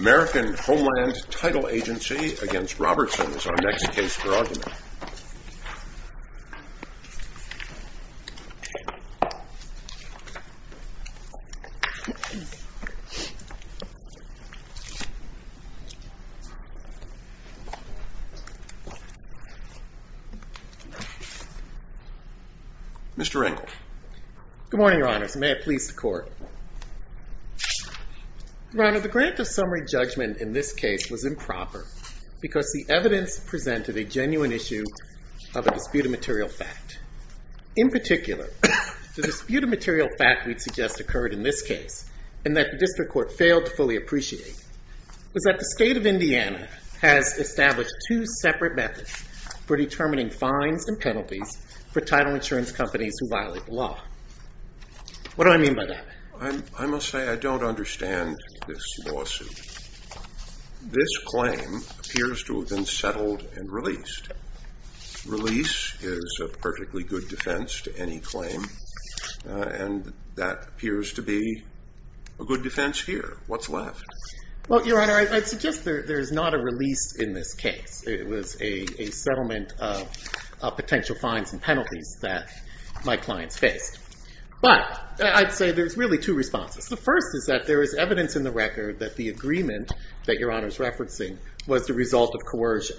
American Homeland Title Agency v. Robertson is our next case for argument. Mr. Engle. Good morning, Your Honors. May it please the Court. Your Honor, the grant of summary judgment in this case was improper because the evidence presented a genuine issue of a disputed material fact. In particular, the disputed material fact we'd suggest occurred in this case and that the District Court failed to fully appreciate was that the State of Indiana has established two separate methods for determining fines and penalties for title insurance companies who violate the law. What do I mean by that? I must say I don't understand this lawsuit. This claim appears to have been settled and released. Release is a perfectly good defense to any claim and that appears to be a good defense here. What's left? Well, Your Honor, I'd suggest there's not a release in this case. It was a settlement of potential fines and penalties that my clients faced. But I'd say there's really two responses. The first is that there is evidence in the record that the agreement that Your Honor is referencing was the result of coercion.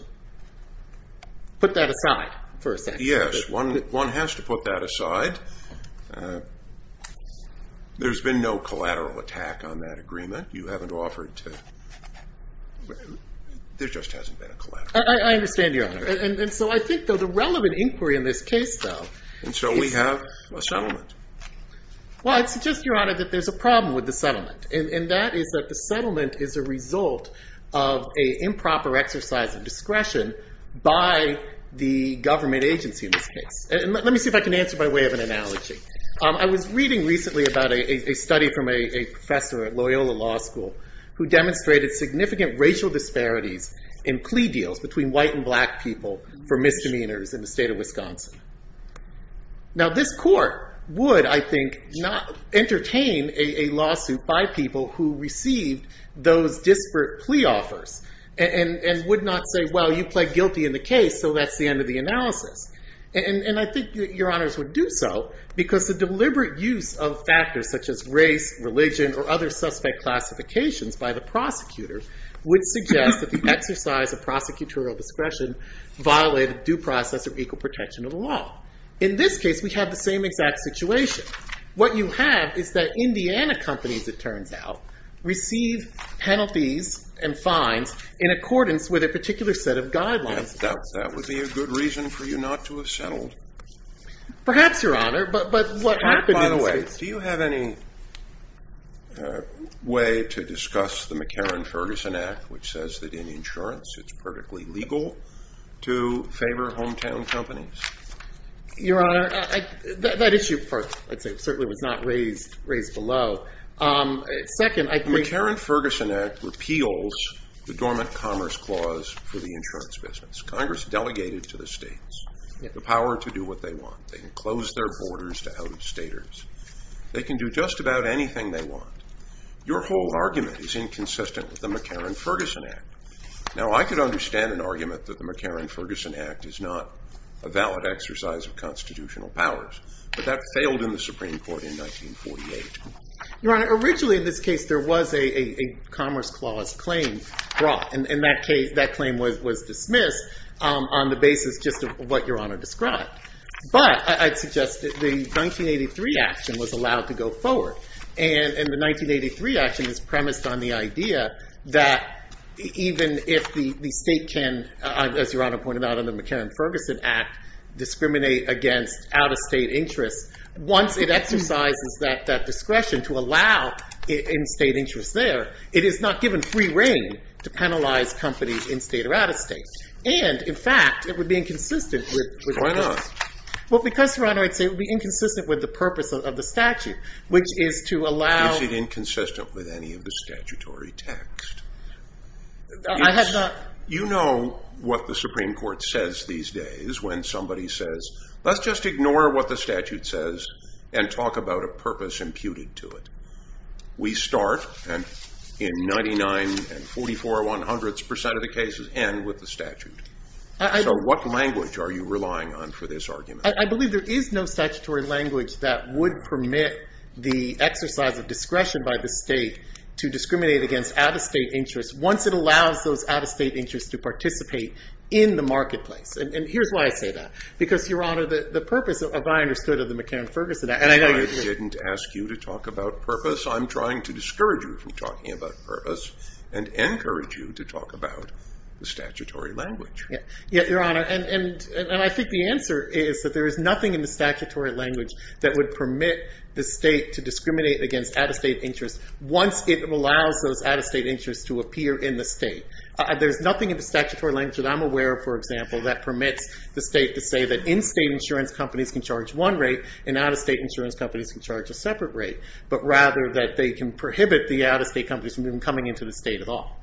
Put that aside for a second. Yes, one has to put that aside. There's been no collateral attack on that agreement. You haven't offered to... There just hasn't been a collateral attack. I understand, Your Honor. And so I think, though, the relevant inquiry in this case, though... And shall we have a settlement? Well, I'd suggest, Your Honor, that there's a problem with the settlement and that is that the settlement is a result of an improper exercise of discretion by the government agency in this case. Let me see if I can answer by way of an analogy. I was reading recently about a study from a professor at Loyola Law School who demonstrated significant racial disparities in plea deals between white and black people for misdemeanors in the state of Wisconsin. Now, this court would, I think, entertain a lawsuit by people who received those disparate plea offers and would not say, well, you pled guilty in the case, so that's the end of the analysis. And I think Your Honors would do so because the deliberate use of factors such as race, religion, or other suspect classifications by the prosecutors would suggest that the exercise of prosecutorial discretion violated due process of equal protection of the law. In this case, we have the same exact situation. What you have is that Indiana companies, it turns out, receive penalties and fines in accordance with a particular set of guidelines. That would be a good reason for you not to have settled. Perhaps, Your Honor, but what happened in this case... which says that in insurance it's perfectly legal to favor hometown companies? Your Honor, that issue certainly was not raised below. Second, I think... The McCarran-Ferguson Act repeals the dormant commerce clause for the insurance business. Congress delegated to the states the power to do what they want. They can close their borders to out-of-staters. They can do just about anything they want. Your whole argument is inconsistent with the McCarran-Ferguson Act. Now, I could understand an argument that the McCarran-Ferguson Act is not a valid exercise of constitutional powers. But that failed in the Supreme Court in 1948. Your Honor, originally in this case there was a commerce clause claim brought. And that claim was dismissed on the basis just of what Your Honor described. But I'd suggest that the 1983 action was allowed to go forward. And the 1983 action is premised on the idea that even if the state can, as Your Honor pointed out, under the McCarran-Ferguson Act, discriminate against out-of-state interests, once it exercises that discretion to allow in-state interests there, it is not given free reign to penalize companies in-state or out-of-state. And, in fact, it would be inconsistent with... Why not? Well, because, Your Honor, it would be inconsistent with the purpose of the statute, which is to allow... Is it inconsistent with any of the statutory text? I have not... You know what the Supreme Court says these days when somebody says, let's just ignore what the statute says and talk about a purpose imputed to it. We start, and in 99% and 44% of the cases end with the statute. So what language are you relying on for this argument? I believe there is no statutory language that would permit the exercise of discretion by the state to discriminate against out-of-state interests once it allows those out-of-state interests to participate in the marketplace. And here's why I say that. Because, Your Honor, the purpose, if I understood, of the McCarran-Ferguson Act... I didn't ask you to talk about purpose. I'm trying to discourage you from talking about purpose and encourage you to talk about the statutory language. Your Honor, and I think the answer is that there is nothing in the statutory language that would permit the state to discriminate against out-of-state interests once it allows those out-of-state interests to appear in the state. There's nothing in the statutory language that I'm aware of, for example, that permits the state to say that in-state insurance companies can charge one rate and out-of-state insurance companies can charge a separate rate, but rather that they can prohibit the out-of-state companies from even coming into the state at all.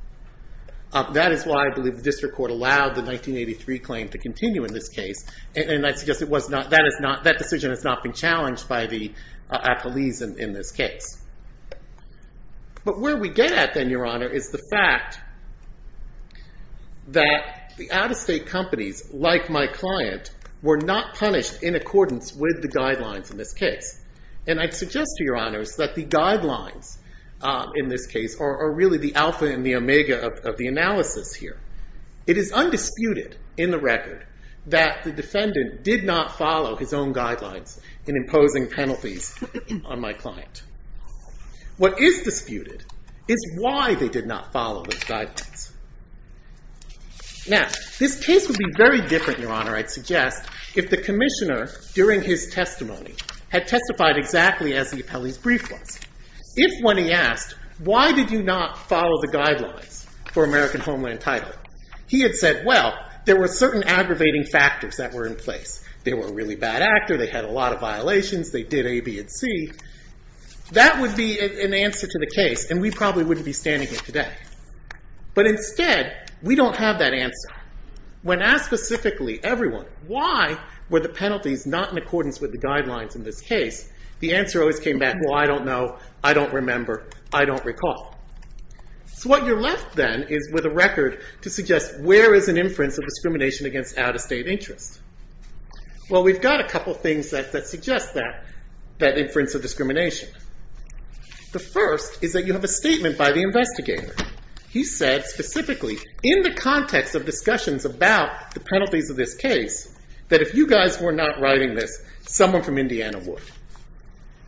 That is why I believe the district court allowed the 1983 claim to continue in this case. And I suggest that decision has not been challenged by the apolis in this case. But where we get at then, Your Honor, is the fact that the out-of-state companies, like my client, were not punished in accordance with the guidelines in this case. And I'd suggest to Your Honors that the guidelines in this case are really the alpha and the omega of the analysis here. It is undisputed in the record that the defendant did not follow his own guidelines in imposing penalties on my client. What is disputed is why they did not follow those guidelines. Now, this case would be very different, Your Honor, I'd suggest, if the commissioner, during his testimony, had testified exactly as the appellee's brief was. If, when he asked, why did you not follow the guidelines for American Homeland Title, he had said, well, there were certain aggravating factors that were in place. They were a really bad actor, they had a lot of violations, they did A, B, and C. That would be an answer to the case, and we probably wouldn't be standing here today. But instead, we don't have that answer. When asked specifically, everyone, why were the penalties not in accordance with the guidelines in this case, the answer always came back, well, I don't know, I don't remember, I don't recall. So what you're left, then, is with a record to suggest where is an inference of discrimination against out-of-state interests. Well, we've got a couple things that suggest that inference of discrimination. The first is that you have a statement by the investigator. He said specifically, in the context of discussions about the penalties of this case, that if you guys were not writing this, someone from Indiana would.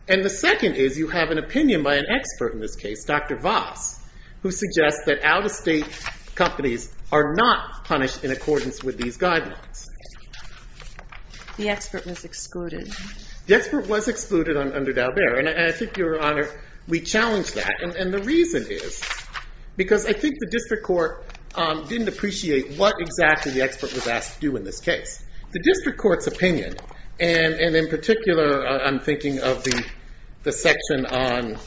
And the second is you have an opinion by an expert in this case, Dr. Voss, who suggests that out-of-state companies are not punished in accordance with these guidelines. The expert was excluded. The expert was excluded under Daubert, and I think, Your Honor, we challenge that. And the reason is because I think the district court didn't appreciate what exactly the expert was asked to do in this case. The district court's opinion, and in particular, I'm thinking of the section on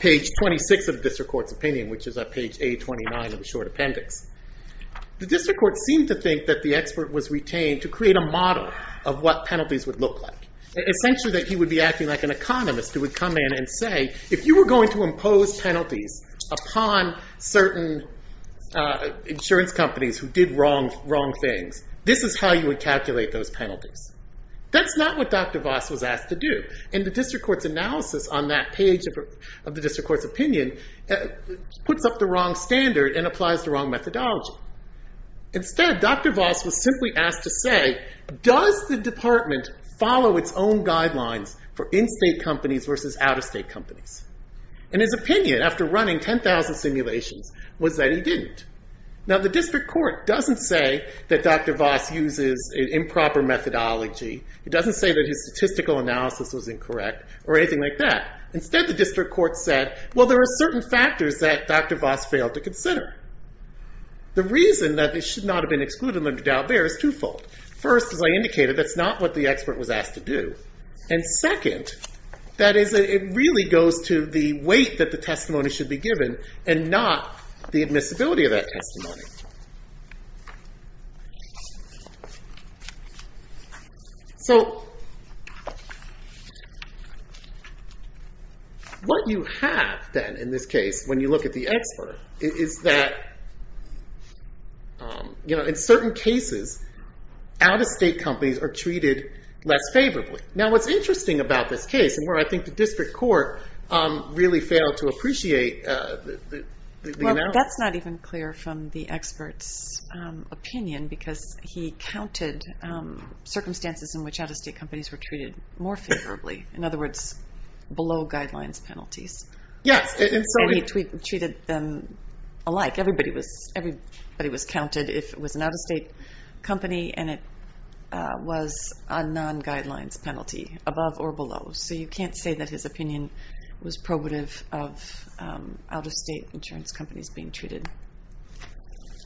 page 26 of the district court's opinion, which is on page A29 of the short appendix. The district court seemed to think that the expert was retained to create a model of what penalties would look like. Essentially that he would be acting like an economist who would come in and say, if you were going to impose penalties upon certain insurance companies who did wrong things, this is how you would calculate those penalties. That's not what Dr. Voss was asked to do. And the district court's analysis on that page of the district court's opinion puts up the wrong standard and applies the wrong methodology. Instead, Dr. Voss was simply asked to say, does the department follow its own guidelines for in-state companies versus out-of-state companies? And his opinion, after running 10,000 simulations, was that he didn't. Now, the district court doesn't say that Dr. Voss uses an improper methodology. It doesn't say that his statistical analysis was incorrect or anything like that. Instead, the district court said, well, there are certain factors that Dr. Voss failed to consider. The reason that they should not have been excluded under Daubert is twofold. First, as I indicated, that's not what the expert was asked to do. And second, that is, it really goes to the weight that the testimony should be given and not the admissibility of that testimony. So what you have, then, in this case, when you look at the expert, is that in certain cases, out-of-state companies are treated less favorably. Now, what's interesting about this case, and where I think the district court really failed to appreciate the analysis. Well, that's not even clear from the expert's opinion because he counted circumstances in which out-of-state companies were treated more favorably. In other words, below guidelines penalties. Yes. And he treated them alike. Everybody was counted if it was an out-of-state company and it was a non-guidelines penalty, above or below. So you can't say that his opinion was probative of out-of-state insurance companies being treated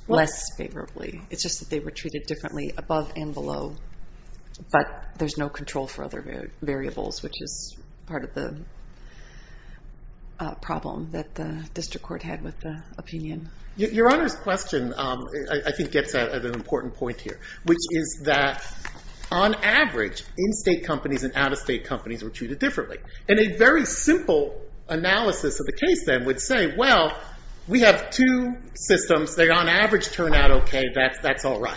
less favorably. It's just that they were treated differently above and below, but there's no control for other variables, which is part of the problem that the district court had with the opinion. Your Honor's question, I think, gets at an important point here, which is that, on average, in-state companies and out-of-state companies were treated differently. And a very simple analysis of the case, then, would say, well, we have two systems. They, on average, turn out OK. That's all right.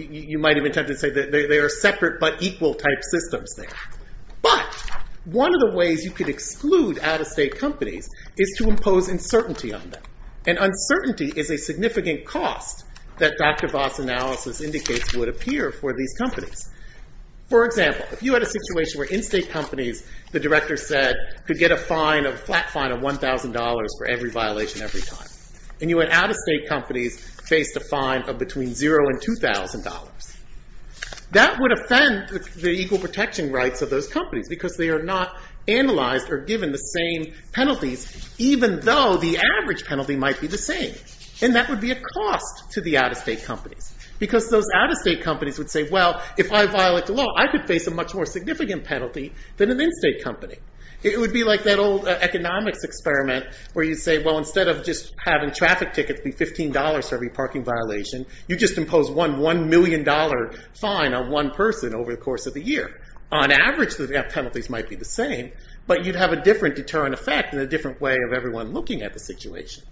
You might have attempted to say that they are separate but equal type systems there. But one of the ways you could exclude out-of-state companies is to impose uncertainty on them. And uncertainty is a significant cost that Dr. Voss' analysis indicates would appear for these companies. For example, if you had a situation where in-state companies, the director said, could get a flat fine of $1,000 for every violation, every time. And you had out-of-state companies face a fine of between $0 and $2,000. That would offend the equal protection rights of those companies because they are not analyzed or given the same penalties, even though the average penalty might be the same. And that would be a cost to the out-of-state companies because those out-of-state companies would say, well, if I violate the law, I could face a much more significant penalty than an in-state company. It would be like that old economics experiment where you'd say, well, instead of just having traffic tickets be $15 for every parking violation, you just impose one $1 million fine on one person over the course of the year. On average, the penalties might be the same, but you'd have a different deterrent effect and a different way of everyone looking at the situation.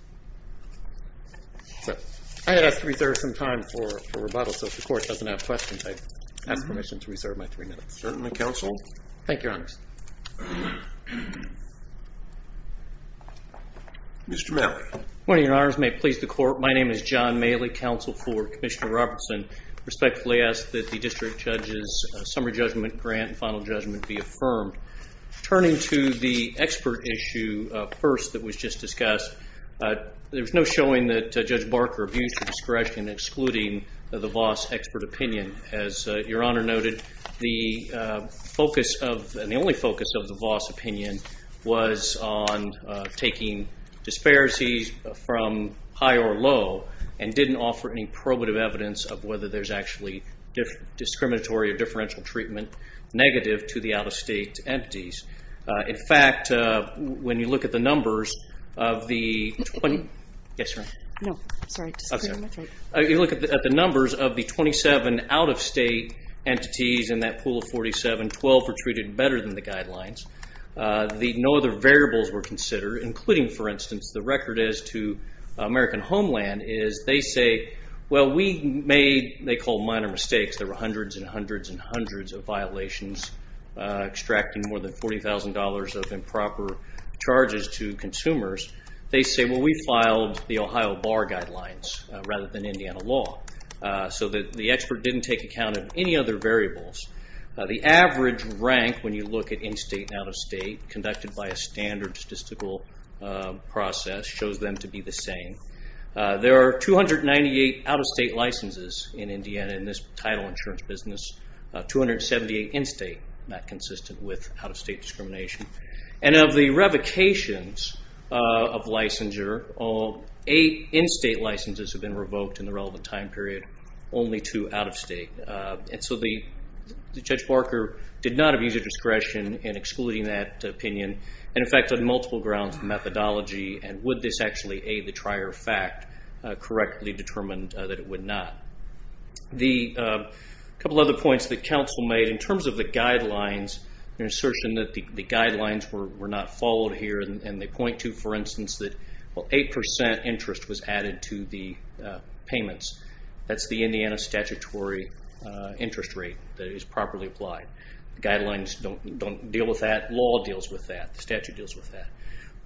I had asked to reserve some time for rebuttal, so if the court doesn't have questions, Certainly, counsel. Thank you, Your Honors. Mr. Maley. Good morning, Your Honors. May it please the Court. My name is John Maley, counsel for Commissioner Robertson. I respectfully ask that the district judge's summary judgment grant and final judgment be affirmed. Turning to the expert issue first that was just discussed, there's no showing that Judge Barker abused her discretion in excluding the Voss expert opinion. As Your Honor noted, the focus of, of the Voss opinion was on taking disparities from high or low and didn't offer any probative evidence of whether there's actually discriminatory or differential treatment negative to the out-of-state entities. In fact, when you look at the numbers of the 20... Yes, Your Honor. No, sorry. You look at the numbers of the 27 out-of-state entities in that pool of 47, when 12 were treated better than the guidelines, no other variables were considered, including, for instance, the record as to American Homeland is they say, well, we made, they call minor mistakes. There were hundreds and hundreds and hundreds of violations extracting more than $40,000 of improper charges to consumers. They say, well, we filed the Ohio Bar Guidelines rather than Indiana law. So the expert didn't take account of any other variables. The average rank when you look at in-state and out-of-state conducted by a standard statistical process shows them to be the same. There are 298 out-of-state licenses in Indiana in this title insurance business, 278 in-state not consistent with out-of-state discrimination. And of the revocations of licensure, all eight in-state licenses have been revoked in the relevant time period, only two out-of-state. And so Judge Barker did not abuse his discretion in excluding that opinion and, in fact, on multiple grounds methodology and would this actually aid the trier fact correctly determined that it would not. A couple other points that counsel made. In terms of the guidelines, an assertion that the guidelines were not followed here and they point to, for instance, that 8% interest was added to the payments. That's the Indiana statutory interest rate that is properly applied. Guidelines don't deal with that. Law deals with that. The statute deals with that.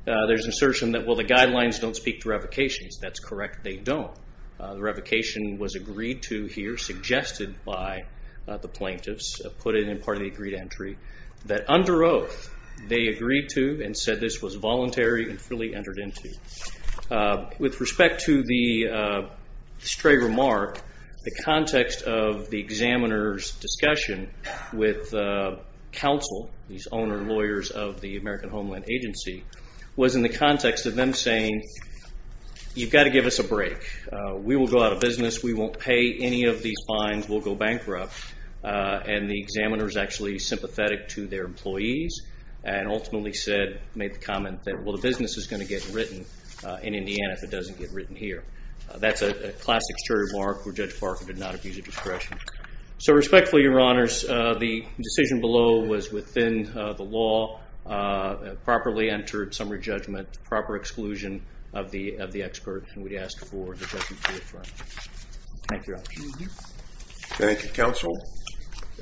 There's an assertion that, well, the guidelines don't speak to revocations. That's correct. They don't. The revocation was agreed to here, suggested by the plaintiffs, put in part of the agreed entry, that under oath they agreed to and said this was voluntary and fully entered into. With respect to the stray remark, the context of the examiner's discussion with counsel, these owner lawyers of the American Homeland Agency, was in the context of them saying, you've got to give us a break. We will go out of business. We won't pay any of these fines. We'll go bankrupt. And the examiner's actually sympathetic to their employees and ultimately said, made the comment that, well, the business is going to get written in Indiana if it doesn't get written here. That's a classic stray remark where Judge Parker did not abuse of discretion. So respectfully, Your Honors, the decision below was within the law, properly entered summary judgment, proper exclusion of the expert, and we'd ask for the judgment to be affirmed. Thank you, Your Honors. Thank you, counsel.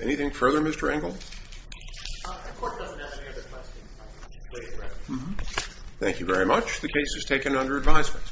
Anything further, Mr. Engel? The court doesn't have any other questions. Thank you very much. The case is taken under advisement.